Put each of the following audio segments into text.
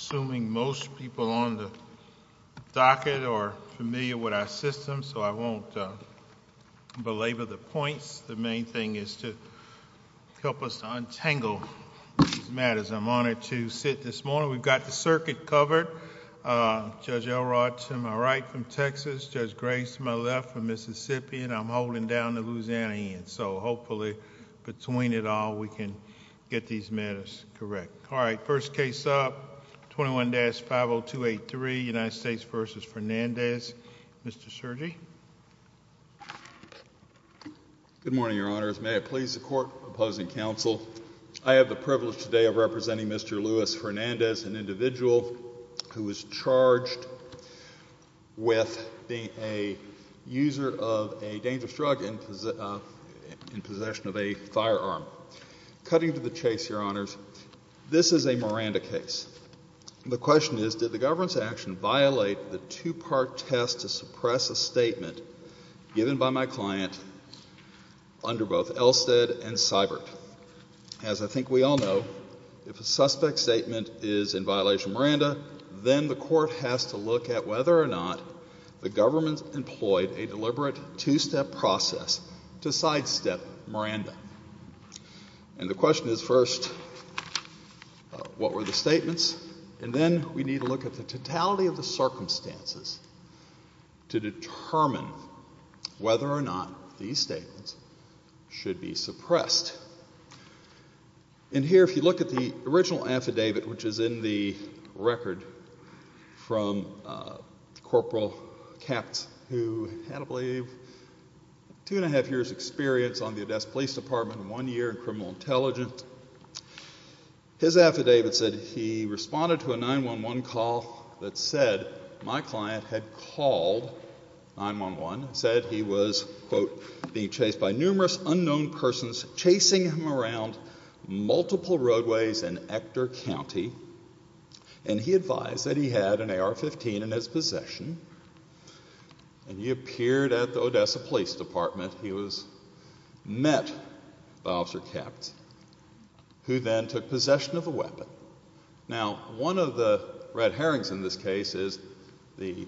assuming most people on the docket are familiar with our system, so I won't belabor the points. The main thing is to help us untangle these matters. I'm honored to sit this morning. We've got the circuit covered. Judge Elrod to my right from Texas, Judge Grace to my left from Mississippi, and I'm holding down the Louisiana end, so hopefully between it 21-50283, United States v. Fernandez. Mr. Sergi? Good morning, Your Honors. May it please the Court, opposing counsel, I have the privilege today of representing Mr. Luis Fernandez, an individual who was charged with being a user of a dangerous drug in possession of a firearm. Cutting to the chase, Your Honors, this is a Miranda case. The question is, did the government's action violate the two-part test to suppress a statement given by my client under both Elstead and Seibert? As I think we all know, if a suspect's statement is in violation of Miranda, then the Court has to look at whether or not the government employed a deliberate two-step process to sidestep Miranda. And the question is, first, what were the statements? And then we need to look at the totality of the circumstances to determine whether or not these statements should be suppressed. And here, if you look at the original affidavit, which is in the record from Corporal Kapt, who had, I believe, two and a half years' experience on the Odessa Police Department and one year in criminal intelligence, his affidavit said he responded to a 911 call that said my client had called 911 and said he was, quote, being chased by numerous unknown persons chasing him around multiple roadways in Ector County. And he advised that he had an AR-15 in his possession, and he appeared at the Odessa Police Department. He was met by Officer Kapt, who then took possession of the weapon. Now, one of the red herrings in this case is the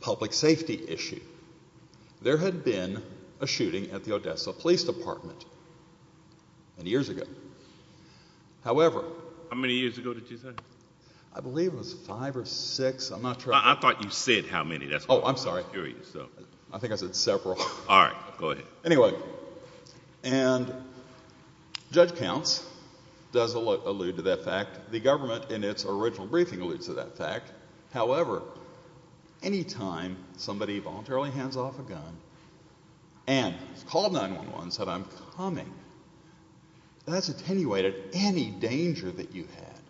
public safety issue. There had been a shooting at the Odessa Police Department many years ago. However— How many years ago did you say? I believe it was five or six. I'm not sure. I thought you said how many. That's why I was curious. Oh, I'm sorry. I think I said several. All right. Go ahead. Anyway, and Judge Counts does allude to that fact. The government in its original briefing alludes to that fact. However, any time somebody voluntarily hands off a gun and has called 911 and said, I'm coming, that's attenuated any danger that you had,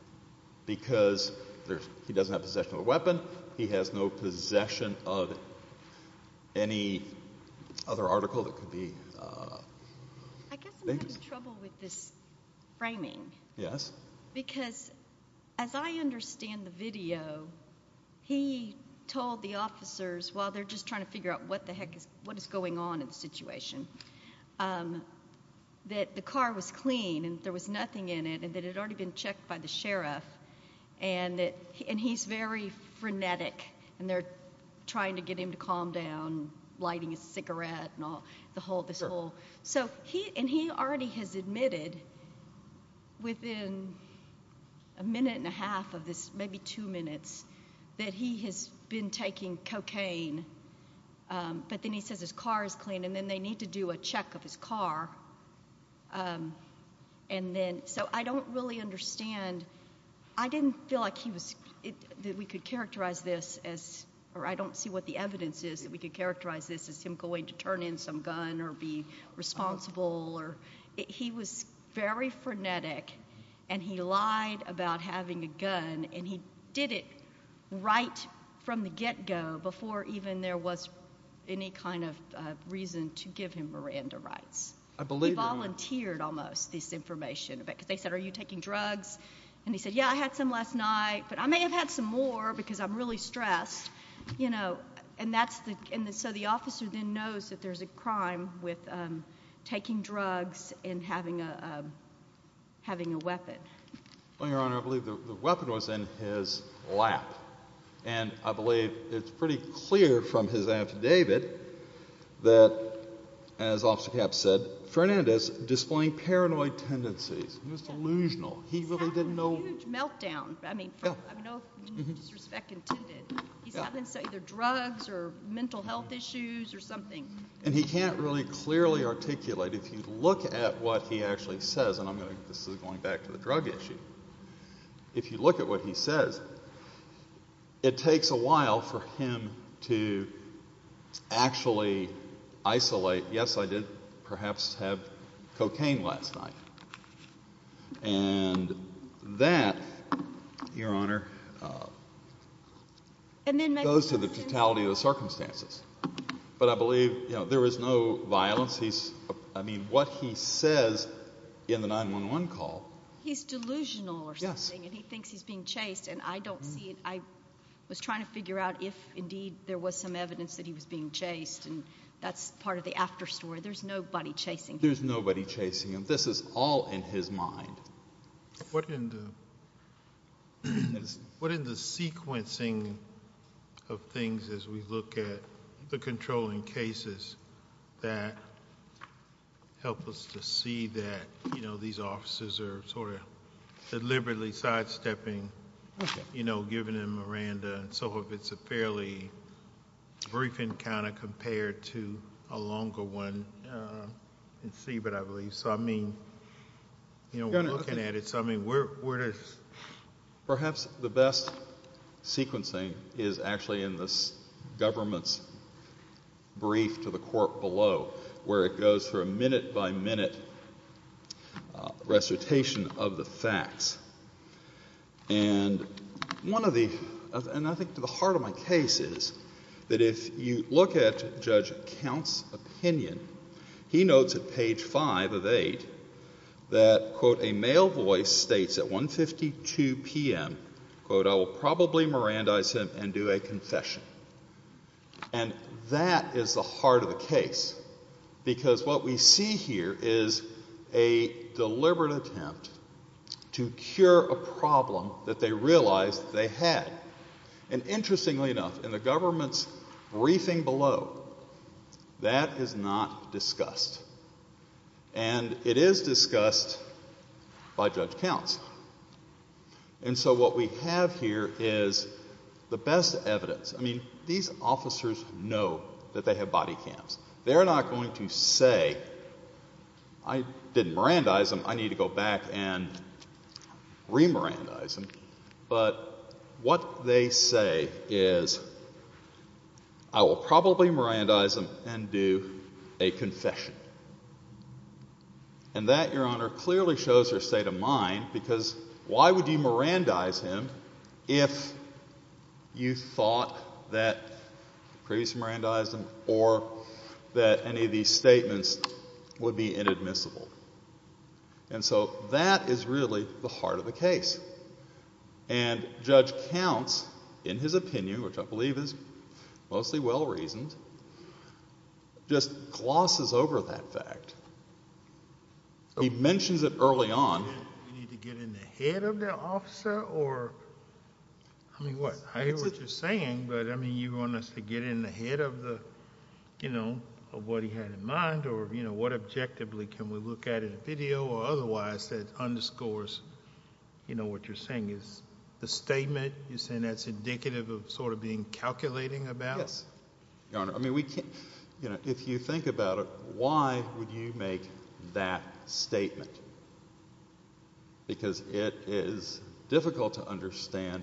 because he doesn't have possession of a weapon. He has no possession of any other article that could be dangerous. I guess I'm having trouble with this framing, because as I understand the video, he told the officers, while they're just trying to figure out what the heck is going on in the situation, that the car was clean, and there was nothing in it, and that it had already been checked by the sheriff. He's very frenetic, and they're trying to get him to calm down, lighting a cigarette and all, this whole— He already has admitted within a minute and a half of this, maybe two minutes, that he has been taking cocaine, but then he says his car is clean, and then they need to do a check of his car. So I don't really understand. I didn't feel like he was—that we could characterize this as—or I don't see what the evidence is that we could characterize this as him going to turn in some gun or be responsible. He was very frenetic, and he did it right from the get-go, before even there was any kind of reason to give him Miranda rights. I believe that, yeah. He volunteered, almost, this information, because they said, are you taking drugs? And he said, yeah, I had some last night, but I may have had some more, because I'm really stressed. And so the officer then knows that there's a crime with taking drugs and having a weapon. Well, Your Honor, I believe the weapon was in his lap, and I believe it's pretty clear from his affidavit that, as Officer Capps said, Fernandez displaying paranoid tendencies. He was delusional. He really didn't know— He's having a huge meltdown, I mean, from—I mean, no disrespect intended. He's having either drugs or mental health issues or something. And he can't really clearly articulate. If you look at what he actually says—and I'm going back to the drug issue—if you look at what he says, it takes a while for him to actually isolate, yes, I did perhaps have cocaine last night. And that, Your Honor, goes to the totality of the circumstances. But I believe, you know, there was no violence. I mean, what he says in the 9-1-1 call— He's delusional or something, and he thinks he's being chased. And I don't see—I was trying to figure out if, indeed, there was some evidence that he was being chased, and that's part of the after story. There's nobody chasing him. There's nobody chasing him. This is all in his mind. What in the sequencing of things as we look at the controlling cases that help us to see that, you know, these officers are sort of deliberately sidestepping, you know, given him Miranda and so forth, it's a fairly brief encounter compared to a longer one in which we're looking at it. So, I mean, where does— Perhaps the best sequencing is actually in the government's brief to the court below where it goes through a minute-by-minute recitation of the facts. And one of the—and I think to the heart of my case is that if you look at Judge Count's opinion, he notes at page 5 of 8 that, quote, a male voice states at 1.52 p.m., quote, I will probably Mirandize him and do a confession. And that is the heart of the case, because what we see here is a deliberate attempt to cure a problem that they realized they had. And interestingly enough, in the government's briefing below, that is not discussed. And it is discussed by Judge Counts. And so what we have here is the best evidence. I mean, these officers know that they have body cams. They're not going to say, I didn't Mirandize him, I need to go back and re-Mirandize him. But what they say is, I will probably Mirandize him and do a confession. And that, Your Honor, clearly shows their state of mind, because why would you Mirandize him if you thought that previous Mirandizing or that any of these other things were going to happen? And so that is really the heart of the case. And Judge Counts, in his opinion, which I believe is mostly well-reasoned, just glosses over that fact. He mentions it early on. Do we need to get in the head of the officer, or, I mean, what, I hear what you're saying, but, I mean, you want us to get in the head of the, you know, of what he had in mind, or, you know, what objectively can we look at in a video, or otherwise that underscores, you know, what you're saying. Is the statement, you're saying that's indicative of sort of being calculating about? Yes, Your Honor. I mean, we can't, you know, if you think about it, why would you make that statement? Because it is difficult to understand,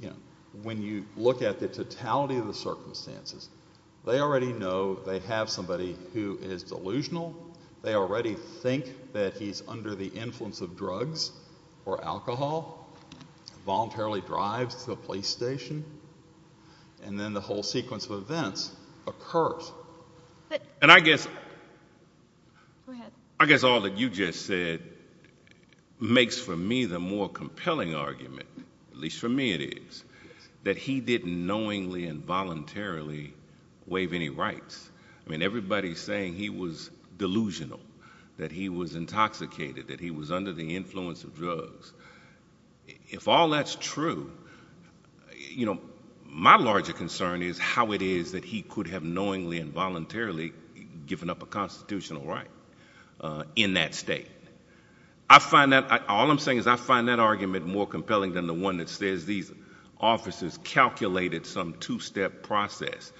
you know, when you look at the testimony of somebody who is delusional, they already think that he's under the influence of drugs or alcohol, voluntarily drives to a police station, and then the whole sequence of events occurs. And I guess, I guess all that you just said makes, for me, the more compelling argument, at least for me it is, that he didn't knowingly and voluntarily waive any rights. I mean, everybody's saying he was delusional, that he was intoxicated, that he was under the influence of drugs. If all that's true, you know, my larger concern is how it is that he could have knowingly and voluntarily given up a constitutional right in that state. I find that, all I'm saying is I find that argument more compelling than the one that says these officers calculated some two-step process.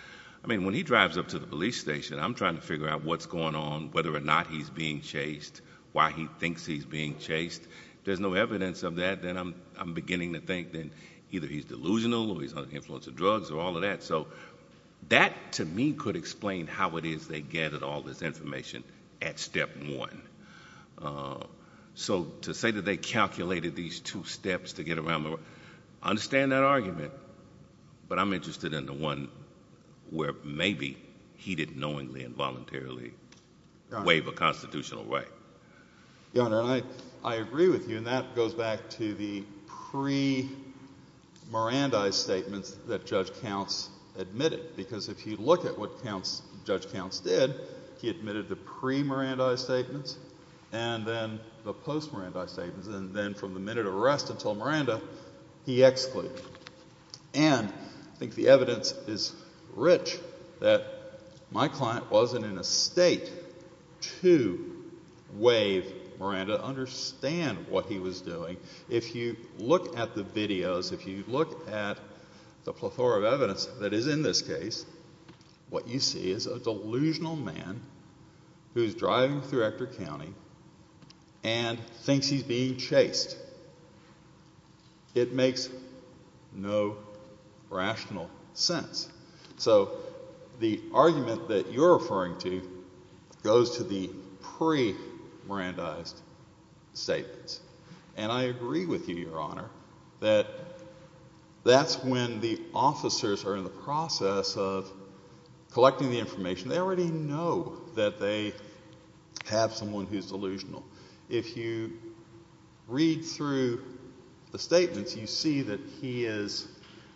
I mean, when he drives up to the police station, I'm trying to figure out what's going on, whether or not he's being chased, why he thinks he's being chased. If there's no evidence of that, then I'm beginning to think that either he's delusional or he's under the influence of drugs or all of that. So that, to me, could explain how it is they gathered all this information at step one. So to say that they calculated these two steps to get around, I understand that argument, but I'm interested in the one where maybe he didn't knowingly and voluntarily waive a constitutional right. Your Honor, I agree with you, and that goes back to the pre-Mirandi statements that Judge Counts admitted, because if you look at what Judge Counts did, he admitted the pre-Mirandi statements and then the post-Mirandi statements, and then from the minute of arrest until Miranda, he excluded. And I think the evidence is rich that my client wasn't in a state to waive Miranda to understand what he was doing. If you look at the videos, if you look at the plethora of evidence that is in this case, what you see is a delusional man who's driving through Ector County and thinks he's being chased. It makes no rational sense. So the argument that you're referring to goes to the pre-Mirandi statements. And I agree with you, Your Honor, that that's when the officers are in the process of collecting the information. They already know that they have someone who's delusional. If you read through the statements, you see that he is,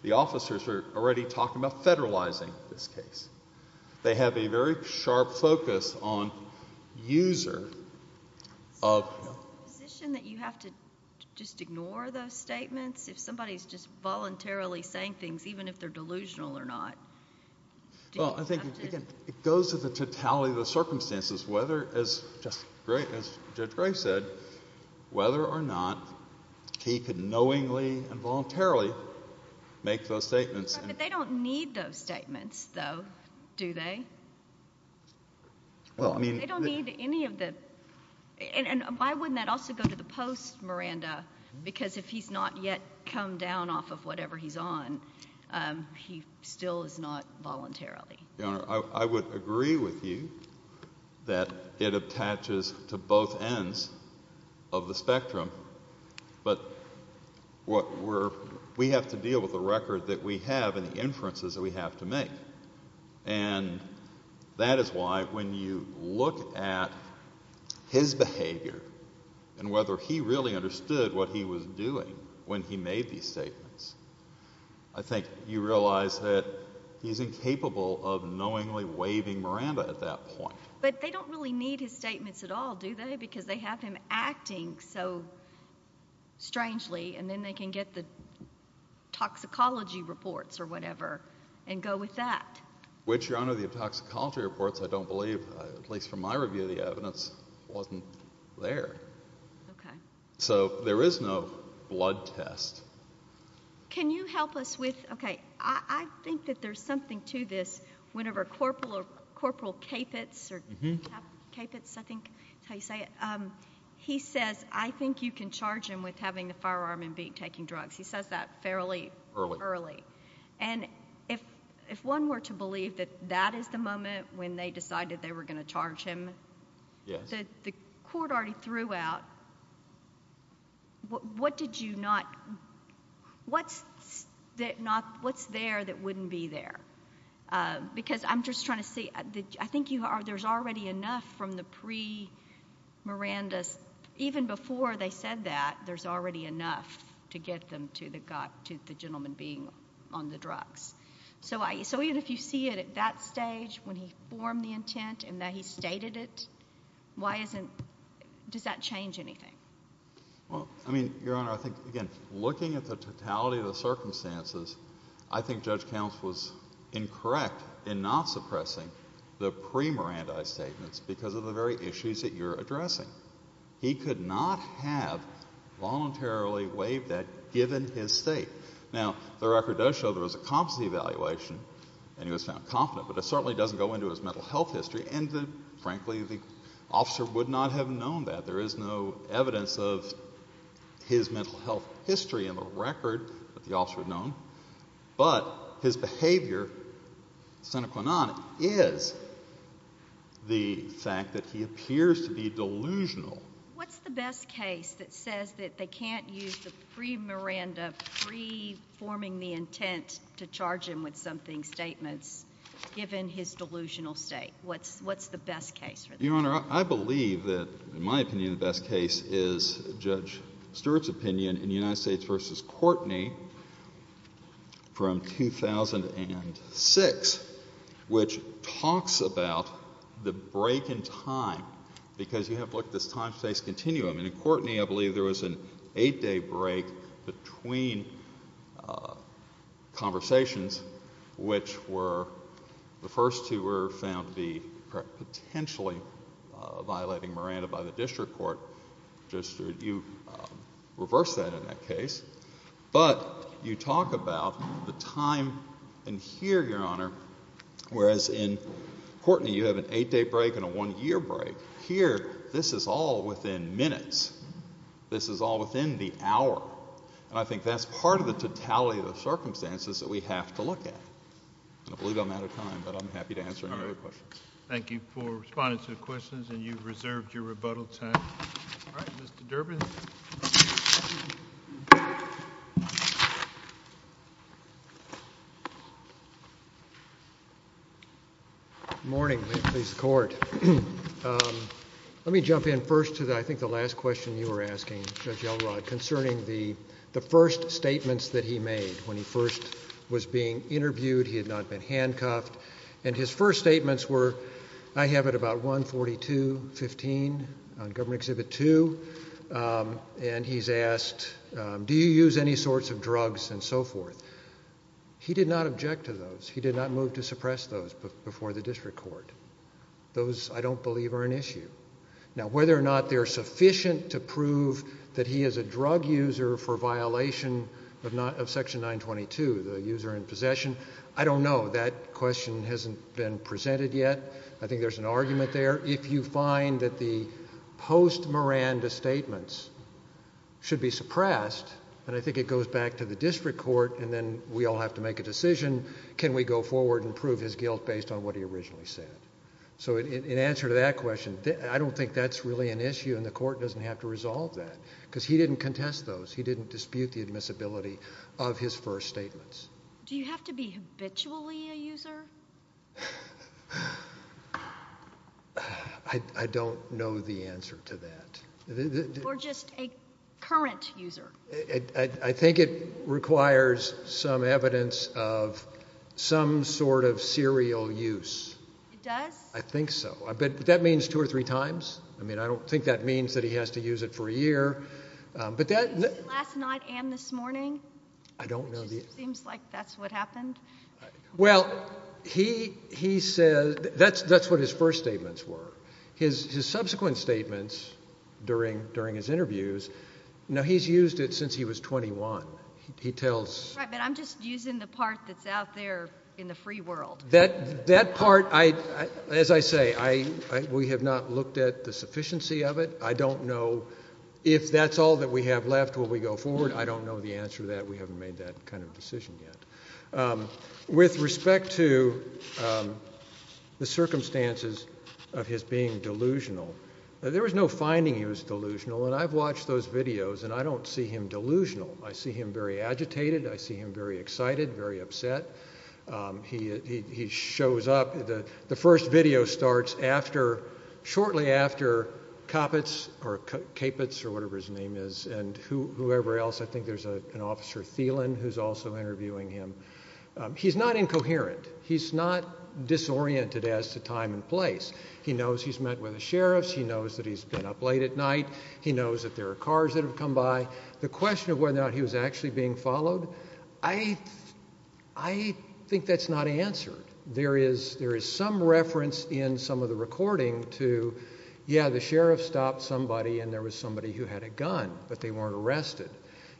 the officers are already talking about federalizing this case. They have a very sharp focus on user of... So is it a position that you have to just ignore those statements if somebody's just voluntarily saying things, even if they're delusional or not? Well, I think, again, it goes to the totality of the circumstances, whether, as Judge Gray said, whether or not he could knowingly and voluntarily make those statements. But they don't need those statements, though, do they? They don't need any of the... And why wouldn't that also go to the post-Miranda? Because if he's not yet come down off of whatever he's on, he still is not voluntarily. Your Honor, I would agree with you that it attaches to both ends of the spectrum. But we have to deal with the record that we have and the inferences that we have to make. And that is why when you look at his behavior and whether he really understood what he was doing when he made these statements, I think you realize that he's incapable of knowingly waving Miranda at that point. But they don't really need his statements at all, do they? Because they have him acting so strangely, and then they can get the toxicology reports or whatever and go with that. Which, Your Honor, the toxicology reports, I don't believe, at least from my review of the evidence, wasn't there. So there is no blood test. Can you help us with... Okay. I think that there's something to this. Whenever Corporal Kapitz, I think that's how you say it, he says, I think you can charge him with having the firearm and taking drugs. He says that fairly early. And if one were to believe that that is the moment when they decided they were going to charge him, the court already threw out, what's there that wouldn't be there? Because I'm just trying to see. I think there's already enough from the pre-Miranda's, even before they said that, there's already enough to get them to the gentleman being on the drugs. So even if you see it at that stage, when he formed the intent and that he stated it, why isn't, does that change anything? Well, I mean, Your Honor, I think, again, looking at the totality of the circumstances, I think Judge Counts was incorrect in not suppressing the pre-Miranda statements because of the very issues that you're addressing. He could not have voluntarily waived that given his state. Now, the record does show there was a competency evaluation and he was found confident, but it certainly doesn't go into his mental health history. And frankly, the officer would not have known that. There is no evidence of his mental health history in the record that the officer had known. But his behavior, Senator Quinan, is the fact that he appears to be delusional. What's the best case that says that they can't use the pre-Miranda, pre-forming the intent to charge him with something statements, given his delusional state? What's the best case for that? Your Honor, I believe that, in my opinion, the best case is Judge Stewart's opinion in United States v. Courtney from 2006, which talks about the break in time because you have, look, this time-space continuum. And in Courtney, I believe there was an eight-day break between conversations, which were, the first two were found to be potentially violating Miranda by the district court. Judge Stewart, you reversed that in that case. But you talk about the time in here, Your Honor, whereas in Courtney you have an eight-day break and a one-year break. Here, this is all within minutes. This is all within the hour. And I think that's part of the totality of the circumstances that we have to look at. I believe I'm out of time, but I'm happy to answer any other questions. Thank you for responding to the questions, and you've reserved your rebuttal time. All right, Mr. Durbin. Good morning. Please support. Let me jump in first to, I think, the last question you were asking, Judge Elrod, concerning the first statements that he made when he first was being interviewed. He had not been handcuffed. And his first statements were, I have it about 142.15 on Government Exhibit 2, and he's asked, do you use any sorts of drugs and so forth? He did not object to those. He did not move to suppress those before the district court. Those, I don't believe, are an issue. Now, whether or not they're sufficient to prove that he is a drug user for violation of Section 922, the user in possession, I don't know. That question hasn't been presented yet. I think there's an argument there. If you find that the post-Miranda statements should be suppressed, and I think it goes back to the district court, and then we all have to make a decision, can we go forward and prove his guilt based on what he originally said? So in answer to that question, I don't think that's really an issue, and the court doesn't have to resolve that, because he didn't contest those. He didn't dispute the admissibility of his first statements. Do you have to be habitually a user? I don't know the answer to that. Or just a current user? I think it requires some evidence of some sort of serial use. It does? I think so. But that means two or three times. I mean, I don't think that means that he has to use it for a year. But that— Last night and this morning? I don't know the— It just seems like that's what happened. Well, he said—that's what his first statements were. His subsequent statements during his interviews, now, he's used it since he was 21. He tells— Right, but I'm just using the part that's out there in the free world. That part, as I say, we have not looked at the sufficiency of it. I don't know if that's all that we have left when we go forward. I don't know the answer to that. We haven't made that kind of decision yet. With respect to the circumstances of his being delusional, there was no finding he was delusional, and I've watched those videos, and I don't see him delusional. I see him very agitated. I see him very excited, very upset. He shows up—the first video starts after—shortly after Caput's, or whatever his name is, and whoever else. I think there's an officer, Thielen, who's also interviewing him. He's not incoherent. He's not disoriented as to time and place. He knows he's met with the sheriffs. He knows that he's been up late at night. He knows that there are cars that have come by. The question of whether or not he was actually being followed, I think that's not answered. There is some reference in some of the recording to, yeah, the sheriff stopped somebody, and there was somebody who had a gun, but they weren't arrested.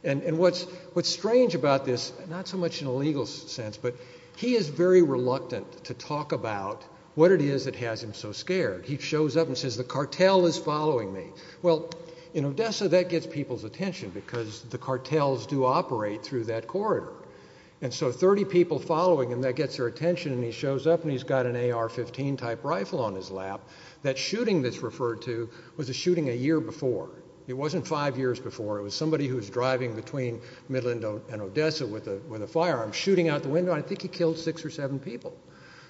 What's strange about this, not so much in a legal sense, but he is very reluctant to talk about what it is that has him so scared. He shows up and says, the cartel is following me. Well, in Odessa, that gets people's attention because the cartels do operate through that corridor. And so, 30 people following him, that gets their attention, and he shows up and he's got an AR-15 type rifle on his lap. That shooting that's referred to was a shooting a year before. It wasn't five years before. It was somebody who was driving between Midland and Odessa with a firearm, shooting out the window. I think he killed six or seven people.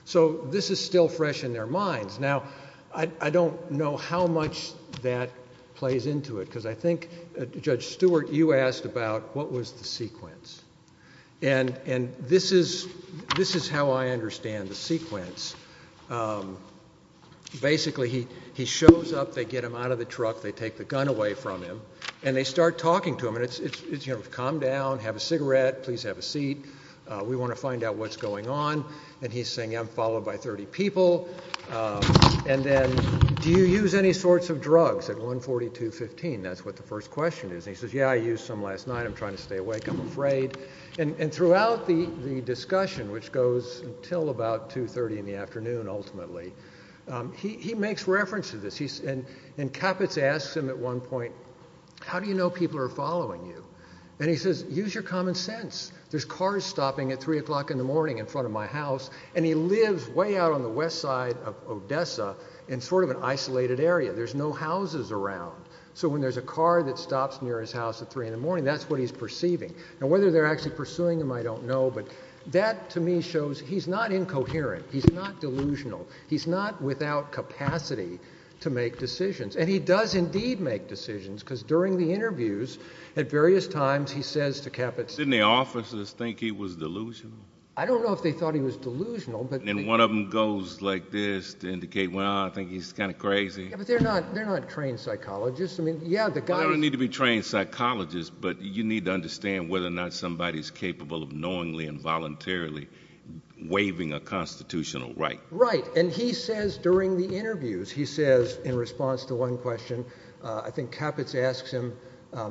So this is still fresh in their minds. Now, I don't know how much that plays into it because I think, Judge Stewart, you asked about what was the sequence. And this is how I understand the sequence. Basically, he shows up, they get him out of the truck, they take the gun away from him, and they start talking to him. And it's, calm down, have a cigarette, please have a seat. We want to find out what's going on. And he's saying, I'm followed by 30 people. And then, do you use any sorts of drugs at 142.15? That's what the first question is. And he says, yeah, I used some last night. I'm trying to stay awake, I'm afraid. And throughout the discussion, which goes until about 2.30 in the afternoon, ultimately, he makes reference to this. And Kappitz asks him at one point, how do you know people are there? There's cars stopping at 3 o'clock in the morning in front of my house. And he lives way out on the west side of Odessa in sort of an isolated area. There's no houses around. So when there's a car that stops near his house at 3 in the morning, that's what he's perceiving. Now, whether they're actually pursuing him, I don't know. But that, to me, shows he's not incoherent. He's not delusional. He's not without capacity to make decisions. And he does, indeed, make decisions. Because during the interviews, at various times, he does think he was delusional. I don't know if they thought he was delusional. And one of them goes like this to indicate, well, I think he's kind of crazy. Yeah, but they're not trained psychologists. I mean, yeah, the guy... Well, they don't need to be trained psychologists, but you need to understand whether or not somebody's capable of knowingly and voluntarily waiving a constitutional right. Right. And he says during the interviews, he says, in response to one question, I think Kappitz asks him,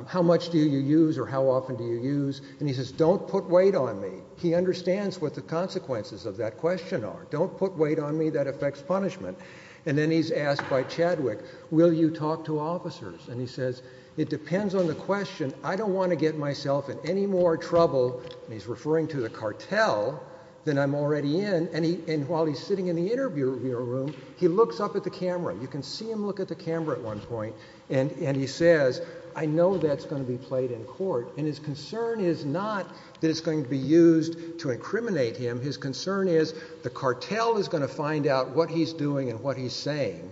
how much do you use or how much do you use? And he says, don't put weight on me. He understands what the consequences of that question are. Don't put weight on me. That affects punishment. And then he's asked by Chadwick, will you talk to officers? And he says, it depends on the question. I don't want to get myself in any more trouble, and he's referring to the cartel, than I'm already in. And while he's sitting in the interview room, he looks up at the camera. You can see him look at the camera at one point. And he says, I know that's going to be played in court. And his concern is not that it's going to be used to incriminate him. His concern is the cartel is going to find out what he's doing and what he's saying.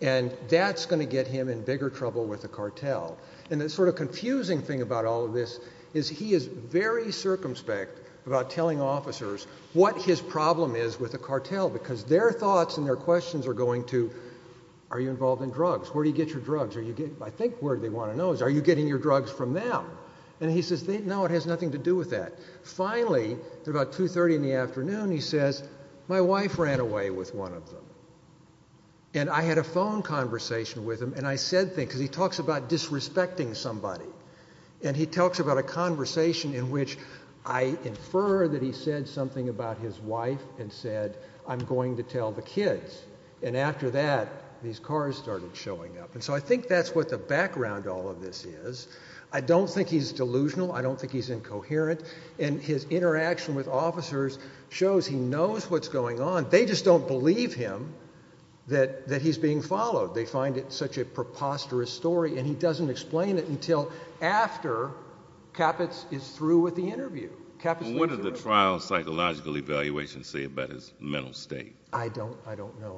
And that's going to get him in bigger trouble with the cartel. And the sort of confusing thing about all of this is he is very circumspect about telling officers what his problem is with the cartel, because their thoughts and their questions are going to, are you involved in drugs? Where do you get your drugs? I think where they want to know is, are you getting your drugs from them? And he says, no, it has nothing to do with that. Finally, at about 2.30 in the afternoon, he says, my wife ran away with one of them. And I had a phone conversation with him, and I said things, because he talks about disrespecting somebody. And he talks about a conversation in which I infer that he said something about his wife and said, I'm going to tell the kids. And after that, these cars started showing up. And so I think that's what the background to all of this is. I don't think he's delusional. I don't think he's incoherent. And his interaction with officers shows he knows what's going on. They just don't believe him that he's being followed. They find it such a preposterous story. And he doesn't explain it until after Caput is through with the interview. What did the trial psychological evaluation say about his mental state? I don't know.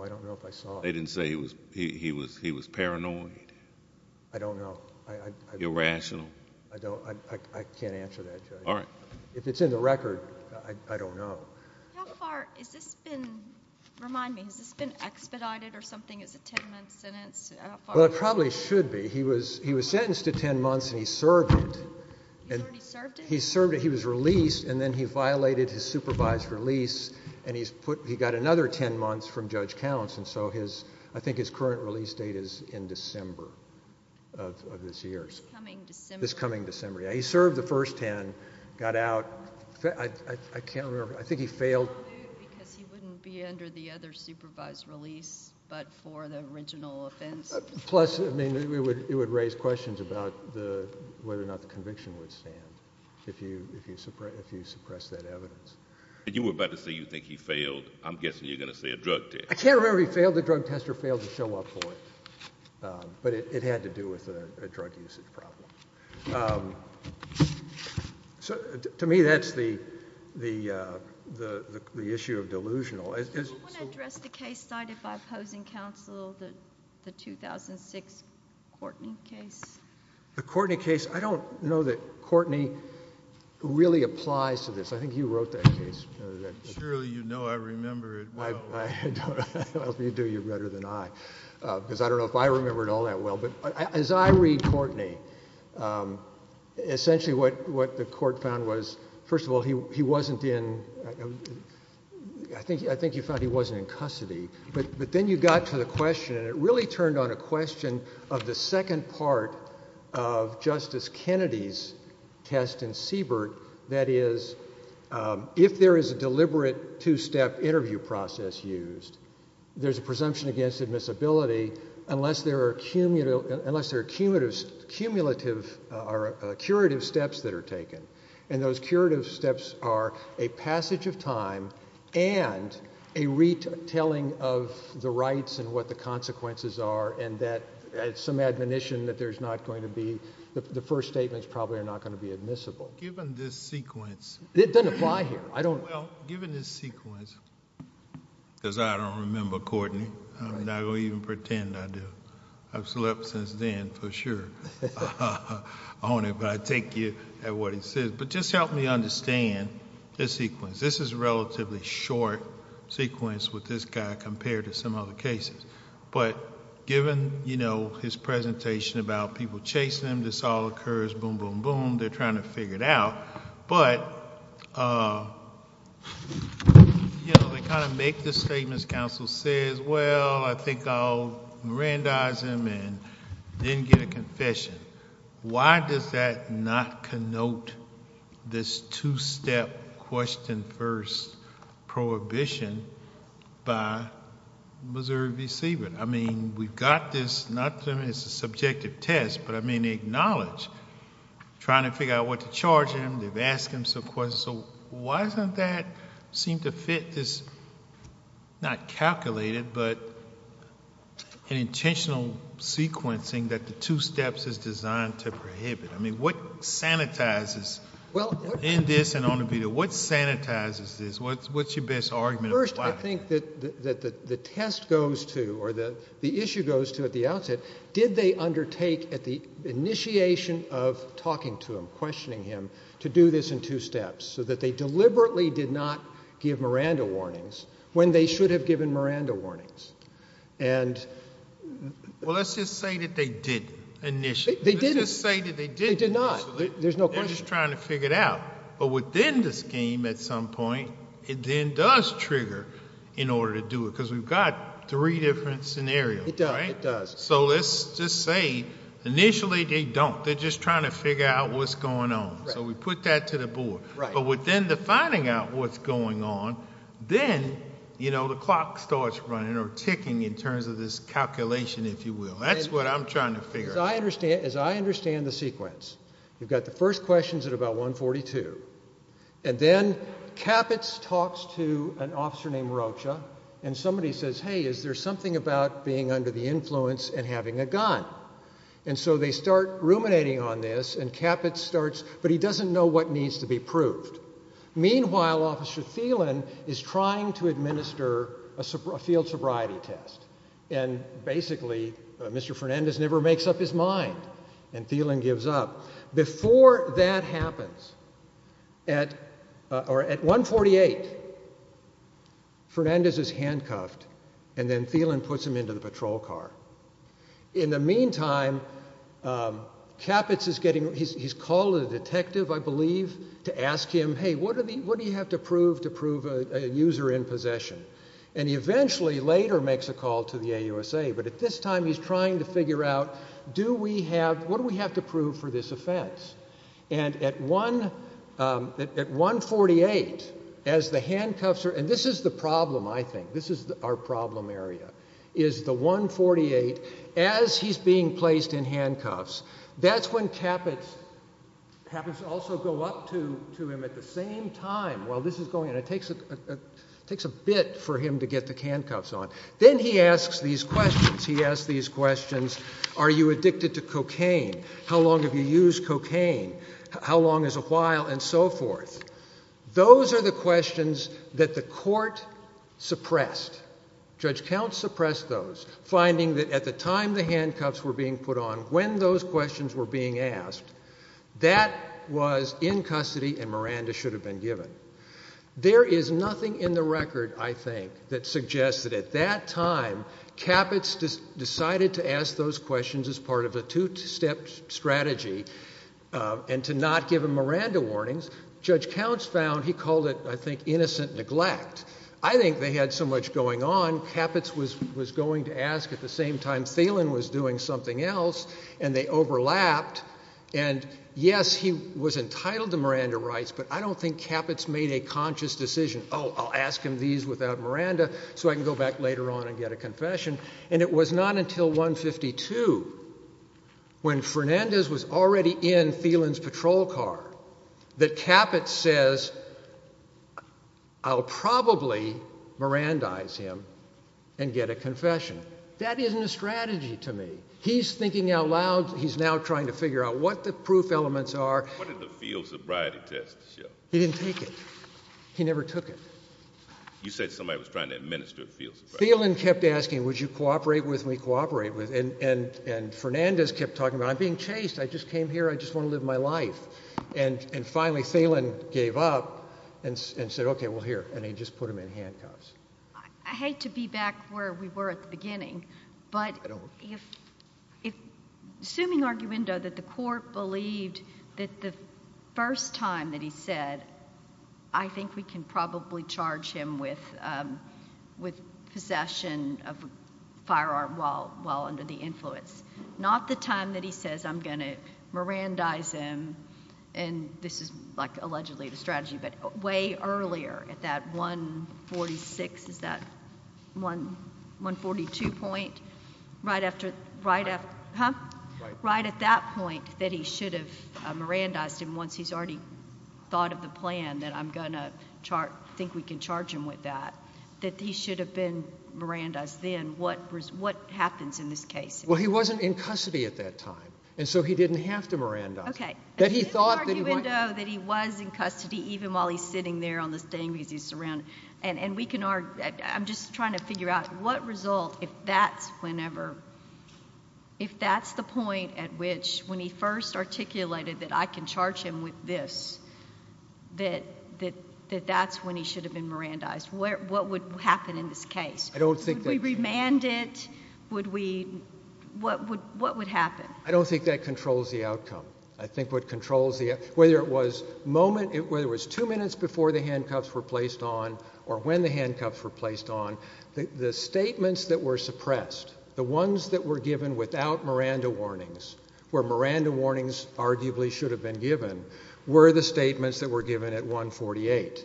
I don't know if I saw it. They didn't say he was paranoid? I don't know. Irrational? I can't answer that, Judge. All right. If it's in the record, I don't know. How far has this been, remind me, has this been expedited or something? Is it a 10-month sentence? Well, it probably should be. He was sentenced to 10 months, and he served it. He's already served it? He served it. He was released, and then he violated his supervised release, and he got another 10 months from Judge Counts. And so his, I think his current release date is in December of this year. This coming December? This coming December. Yeah, he served the first 10, got out. I can't remember. I think he failed... Because he wouldn't be under the other supervised release but for the original offense... Plus, I mean, it would raise questions about whether or not the conviction would stand if you suppress that evidence. And you were about to say you think he failed. I'm guessing you're going to say a drug test. I can't remember if he failed the drug test or failed to show up for it, but it had to do with a drug usage problem. To me, that's the issue of delusional. Do you want to address the case cited by opposing counsel, the 2006 Courtney case? The Courtney case, I don't know that Courtney really applies to this. I think you wrote that case. Surely you know I remember it well. I hope you do. You're better than I. Because I don't know if I remember it all that well. But as I read Courtney, essentially what the court found was, first of all, he wasn't in... I think you found he wasn't in custody. But then you got to the question, and it really turned on a question of the second part of Justice Kennedy's test in Siebert. That is, if there is a deliberate two-step interview process used, there's a presumption against admissibility unless there are cumulative or curative steps that are taken. And those curative steps are a passage of time and a retelling of the rights and what the consequences are, and that some admonition that there's not going to be... the first statements probably are not going to be admissible. Given this sequence... It doesn't apply here. I don't... Well, given this sequence, because I don't remember Courtney, I'm not going to even pretend I do. I've slept since then, for sure, on it, but I take you at what he says. But just help me understand this sequence. This is a relatively short sequence with this guy compared to some other cases. But given his presentation about people chasing him, this all occurs, boom, boom, boom, they're trying to figure it out, but they kind of make the statements. Counsel says, well, I think I'll Mirandize him and then get a confession. Why does that not connote this two-step question first prohibition by Missouri V. Siebert? I mean, we've got this... not that it's a subjective test, but I mean, they acknowledge trying to figure out what to charge him. They've asked him some questions. So why doesn't that seem to fit this, not calculated, but an intentional sequencing that the two steps is designed to prohibit? I mean, what sanitizes... Well...... in this and on the video? What sanitizes this? What's your best argument? First, I think that the test goes to, or the issue goes to at the outset, did they undertake at the initiation of talking to him, questioning him, to do this in two steps, so that they deliberately did not give Miranda warnings when they should have given Miranda warnings? And... Well, let's just say that they didn't initially. They didn't. Let's just say that they didn't initially. They did not. There's no question. They're just trying to figure it out. But within the scheme at some point, it then does trigger in order to do it, because we've got three different scenarios, right? It does. It does. So let's just say initially they don't. They're just trying to figure out what's going on. Right. So we put that to the board. Right. But within the finding out what's going on, then, you know, the clock starts running or ticking in terms of this calculation, if you will. That's what I'm trying to figure out. As I understand the sequence, you've got the first questions at about 142, and then Caput talks to an officer named Rocha, and somebody says, hey, is there something about being under the influence and having a gun? And so they start ruminating on this, and Caput starts, but he doesn't know what needs to be proved. Meanwhile, Officer Thielen is trying to administer a field sobriety test, and basically Mr. Fernandez never makes up his mind, and Thielen gives up. Before that happens, at 148, Fernandez is handcuffed, and then Thielen puts him into the patrol car. In the meantime, Caput is getting, he's called a detective, I believe, to ask him, hey, what do you have to prove to prove a user in possession? And he eventually later makes a call to the AUSA, but at this time he's trying to figure out, do we have, what do we have to prove for this offense? And at 148, as the handcuffs are, and this is the problem, I think, this is our problem area, is the 148, as he's being placed in handcuffs, that's when Caput, Caput should also go up to him at the same time while this is going, and it takes a bit for him to get the handcuffs on. Then he asks these questions. He asks these questions, are you addicted to cocaine? How long have you used cocaine? How long is a while? And so forth. Those are the questions that the court suppressed. Judge Counts suppressed those, finding that at the time the handcuffs were being put on, when those questions were being asked, that was in custody and Miranda should have been given. There is nothing in the record, I think, that suggests that at that time Caput decided to ask those questions as part of a two-step strategy and to not give him Miranda warnings. Judge Counts found, he called it, I think, innocent neglect. I think they had so much going on, Caput was going to ask at the same time Thielen was doing something else, and they overlapped, and yes, he was entitled to Miranda rights, but I don't think Caput made a conscious decision, oh, I'll ask him these without Miranda so I can go back later on and get a confession. And it was not until 152, when Fernandez was already in Thielen's patrol car, that Caput says, I'll probably Mirandize him and get a confession. That isn't a strategy to me. He's thinking out loud, he's now trying to figure out what the proof elements are. He didn't take it. He never took it. You said somebody was trying to administer a field surprise. Thielen kept asking, would you cooperate with me, cooperate with, and Fernandez kept talking about, I'm being chased, I just came here, I just want to live my life. And finally Thielen gave up and said, okay, well, here, and he just put him in handcuffs. I hate to be back where we were at the beginning, but assuming arguendo that the possession of a firearm while under the influence. Not the time that he says, I'm going to Mirandize him, and this is allegedly the strategy, but way earlier at that 146, is that 142 point? Right at that point that he should have Mirandized him once he's already thought of the plan that I'm going to think we can charge him with that. That he should have been Mirandized then. What happens in this case? Well, he wasn't in custody at that time, and so he didn't have to Mirandize him. Okay. That he thought that he might. That he was in custody even while he's sitting there on the stand because he's surrounded. And we can argue, I'm just trying to figure out what result, if that's whenever, if that's the point at which, when he first articulated that I can charge him with this, that that's when he should have been Mirandized. What would happen in this case? I don't think that... Would we remand it? What would happen? I don't think that controls the outcome. I think what controls the outcome, whether it was two minutes before the handcuffs were placed on or when the handcuffs were placed on, the statements that were suppressed, the ones that were given without Miranda warnings, where Miranda warnings arguably should have been given, were the statements that were given at 148.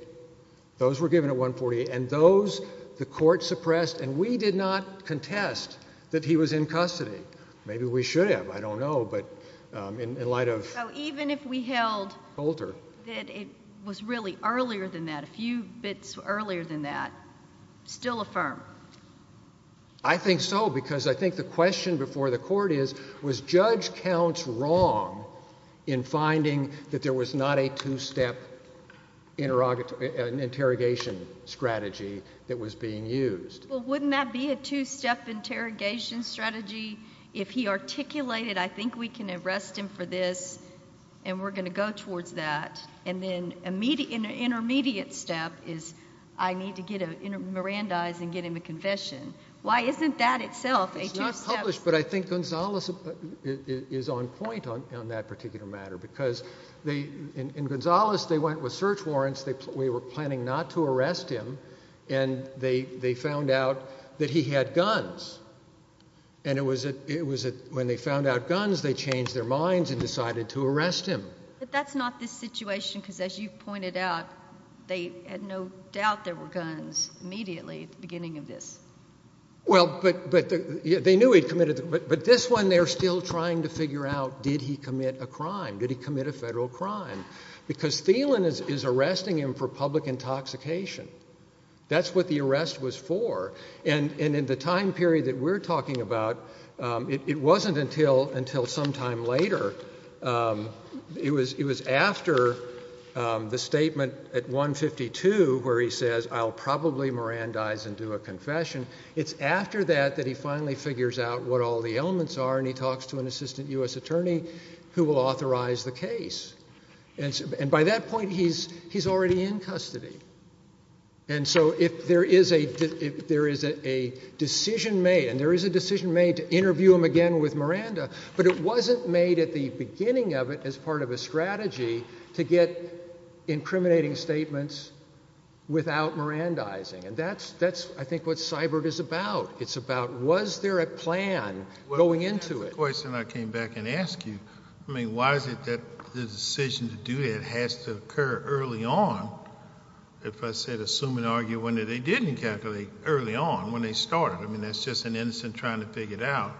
Those were given at 148, and those the court suppressed, and we did not contest that he was in custody. Maybe we should have. I don't know, but in light of... So even if we held... Holder.... that it was really earlier than that, a few bits earlier than that, still affirm? I think so, because I think the question before the court is, was Judge Counts wrong in finding that there was not a two-step interrogation strategy that was being used? Well, wouldn't that be a two-step interrogation strategy? If he articulated, I think we can arrest him for this, and we're going to go towards that, and then an intermediate step is I need to get a Mirandize and get him a confession. Why isn't that itself a two-step... It's not published, but I think Gonzales is on point on that particular matter, because in Gonzales, they went with search warrants. We were planning not to arrest him, and they found out that he had guns, and it was when they found out guns, they changed their minds and decided to arrest him. But that's not this situation, because as you pointed out, they had no doubt there were guns immediately at the beginning of this. Well, but they knew he'd committed... But this one, they're still trying to figure out, did he commit a crime? Did he commit a federal crime? Because Thielen is arresting him for public intoxication. That's what the arrest was for, and in the time period that we're after the statement at 152 where he says, I'll probably Mirandize and do a confession, it's after that that he finally figures out what all the elements are, and he talks to an assistant U.S. attorney who will authorize the case. And by that point, he's already in custody. And so if there is a decision made, and there is a decision made to interview him again with Miranda, but it wasn't made at the beginning of it as part of a strategy to get incriminating statements without Mirandizing. And that's, I think, what CYBIRD is about. It's about, was there a plan going into it? Well, that's the question I came back and asked you. I mean, why is it that the decision to do that has to occur early on, if I said assume and argue when they didn't calculate early on, when they started? I mean, that's just an innocent trying to figure it out.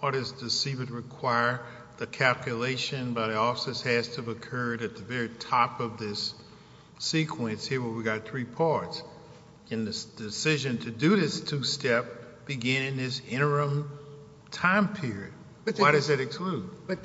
Why does the CYBIRD require the calculation by the officers has to have occurred at the very top of this sequence here where we've got three parts in this decision to do this two-step beginning this interim time period? Why does that exclude? But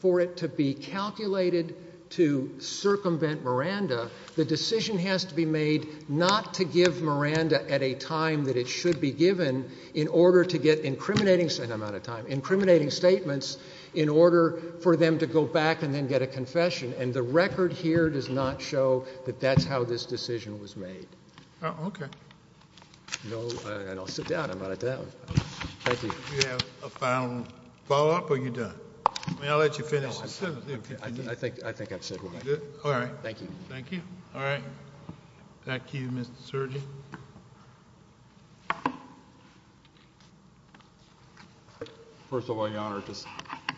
for it to be calculated to circumvent Miranda, the decision has to be made not to incriminating statements in order for them to go back and then get a confession, and the record here does not show that that's how this decision was made. Oh, okay. No, and I'll sit down. I'm out of time. Thank you. Do you have a final follow-up, or are you done? I mean, I'll let you finish. I think I've said what I need to say. All right. Thank you. Thank you. All right. Back to you, Mr. Sergi. First of all, Your Honor, just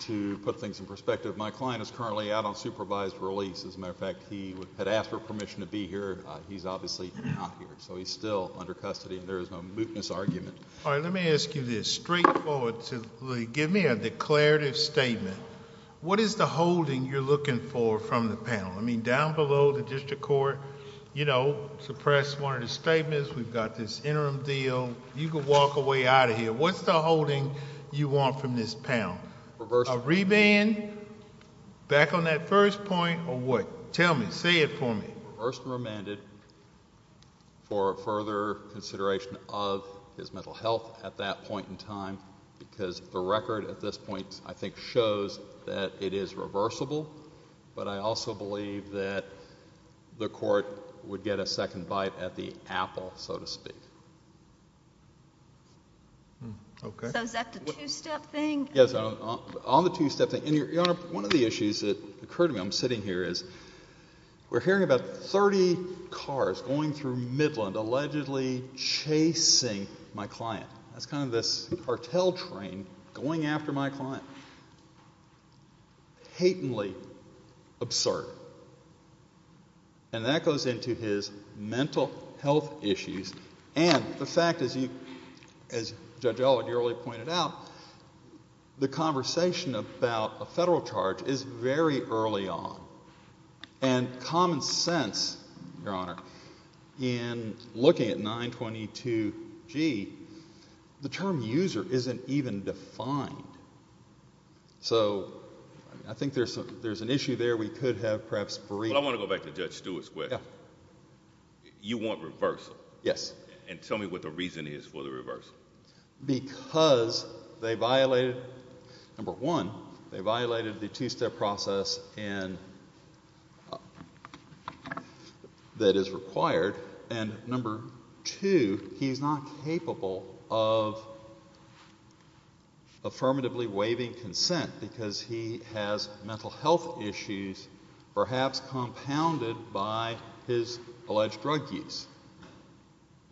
to put things in perspective, my client is currently out on supervised release. As a matter of fact, he had asked for permission to be here. He's obviously not here, so he's still under custody, and there is no mootness argument. All right. Let me ask you this straightforwardly. Give me a declarative statement. What is the holding you're looking for from the panel? I mean, down below the district court, you know, suppress one of the statements. We've got this interim deal. You can walk away out of here. What's the holding you want from this panel? A revand? Back on that first point, or what? Tell me. Say it for me. Reversed and remanded for further consideration of his mental health at that point in time because the record at this point, I think, shows that it is reversible, but I also believe that the court would get a second bite at the apple, so to speak. Okay. So is that the two-step thing? Yes. On the two-step thing. Your Honor, one of the issues that occurred to me, I'm sitting here, is we're hearing about 30 cars going through Midland, allegedly chasing my client. That's kind of this cartel train going after my client. Patently absurd. And that goes into his mental health issues. And the fact is, as Judge Elwood, you already pointed out, the conversation about a federal charge is very early on. And common sense, Your Honor, in looking at 922G, the term user isn't even defined. So I think there's an issue there. We could have perhaps briefed. But I want to go back to Judge Stewart's question. You want reversal. Yes. And tell me what the reason is for the reversal. Because they violated, number one, they violated the two-step process that is required, and number two, he's not capable of affirmatively waiving consent because he has mental health issues perhaps compounded by his alleged drug use.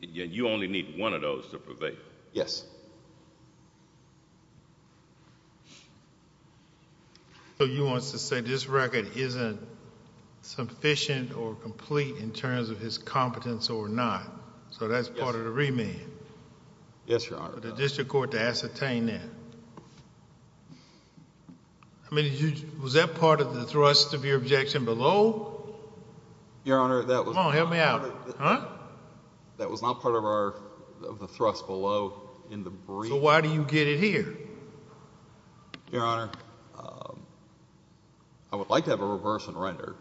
You only need one of those to prevail. Yes. So he wants to say this record isn't sufficient or complete in terms of his competence or not. So that's part of the remand. Yes, Your Honor. For the district court to ascertain that. I mean, was that part of the thrust of your objection below? Your Honor, that was not part of the thrust below in the brief. So why do you get it here? Your Honor, I would like to have it reversed and rendered.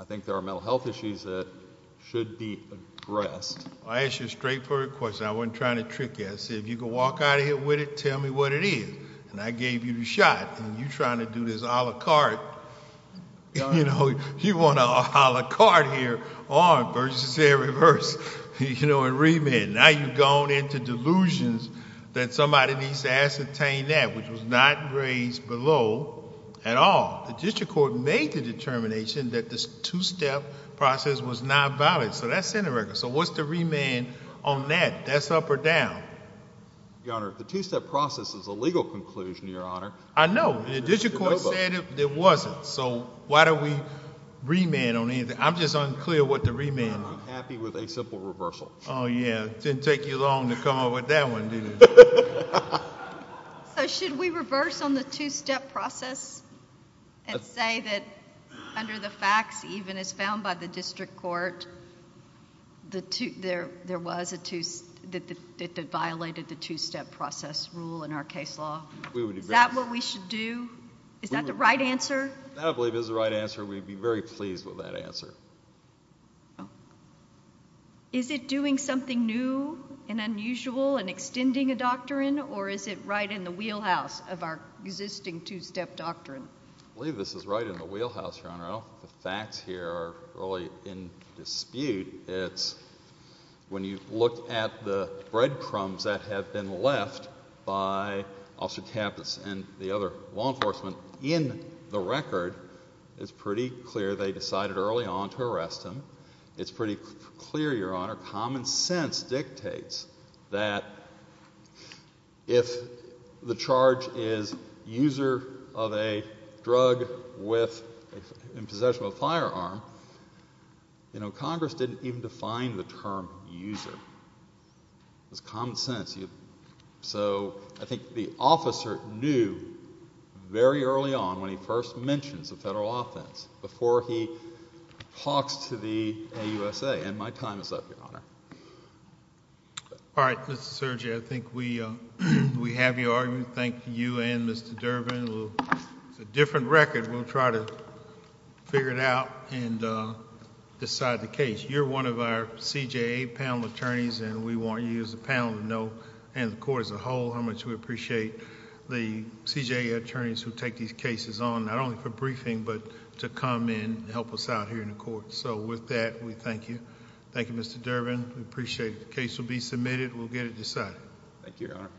I think there are mental health issues that should be addressed. I'll ask you a straightforward question. I wasn't trying to trick you. I said if you can walk out of here with it, tell me what it is. And I gave you the shot. And you're trying to do this a la carte. You know, you want a a la carte here on versus a reverse, you know, in remand. Now you've gone into delusions that somebody needs to ascertain that, which was not raised below at all. The district court made the determination that this two-step process was not valid. So that's in the record. So what's the remand on that? That's up or down? Your Honor, the two-step process is a legal conclusion, Your Honor. I know. The district court said it wasn't. So why do we remand on anything? I'm just unclear what the remand is. I'm happy with a simple reversal. Oh, yeah. It didn't take you long to come up with that one, did it? So should we reverse on the two-step process and say that under the facts, even as found by the district court, that it violated the two-step process rule in our case law? Is that what we should do? Is that the right answer? I believe it is the right answer. We'd be very pleased with that answer. Is it doing something new and unusual in extending a doctrine, or is it right in the wheelhouse of our existing two-step doctrine? I believe this is right in the wheelhouse, Your Honor. The facts here are really in dispute. It's when you look at the breadcrumbs that have been left by Officer Tapas and the other law enforcement in the record, it's pretty clear they decided early on to arrest him. It's pretty clear, Your Honor, common sense dictates that if the charge is user of a drug in possession of a firearm, Congress didn't even define the term user. It was common sense. I think the officer knew very early on when he first mentions the federal offense before he talks to the AUSA. My time is up, Your Honor. All right, Mr. Sergey. I think we have you argued. Thank you and Mr. Durbin. It's a different record. We'll try to figure it out and decide the case. You're one of our CJA panel attorneys, and we want you as a panel to know, and the court as a whole, how much we appreciate the CJA attorneys who take these cases on, not only for briefing, but to come in and help us out here in the court. With that, we thank you. Thank you, Mr. Durbin. We appreciate the case will be submitted. We'll get it decided. Thank you, Your Honor.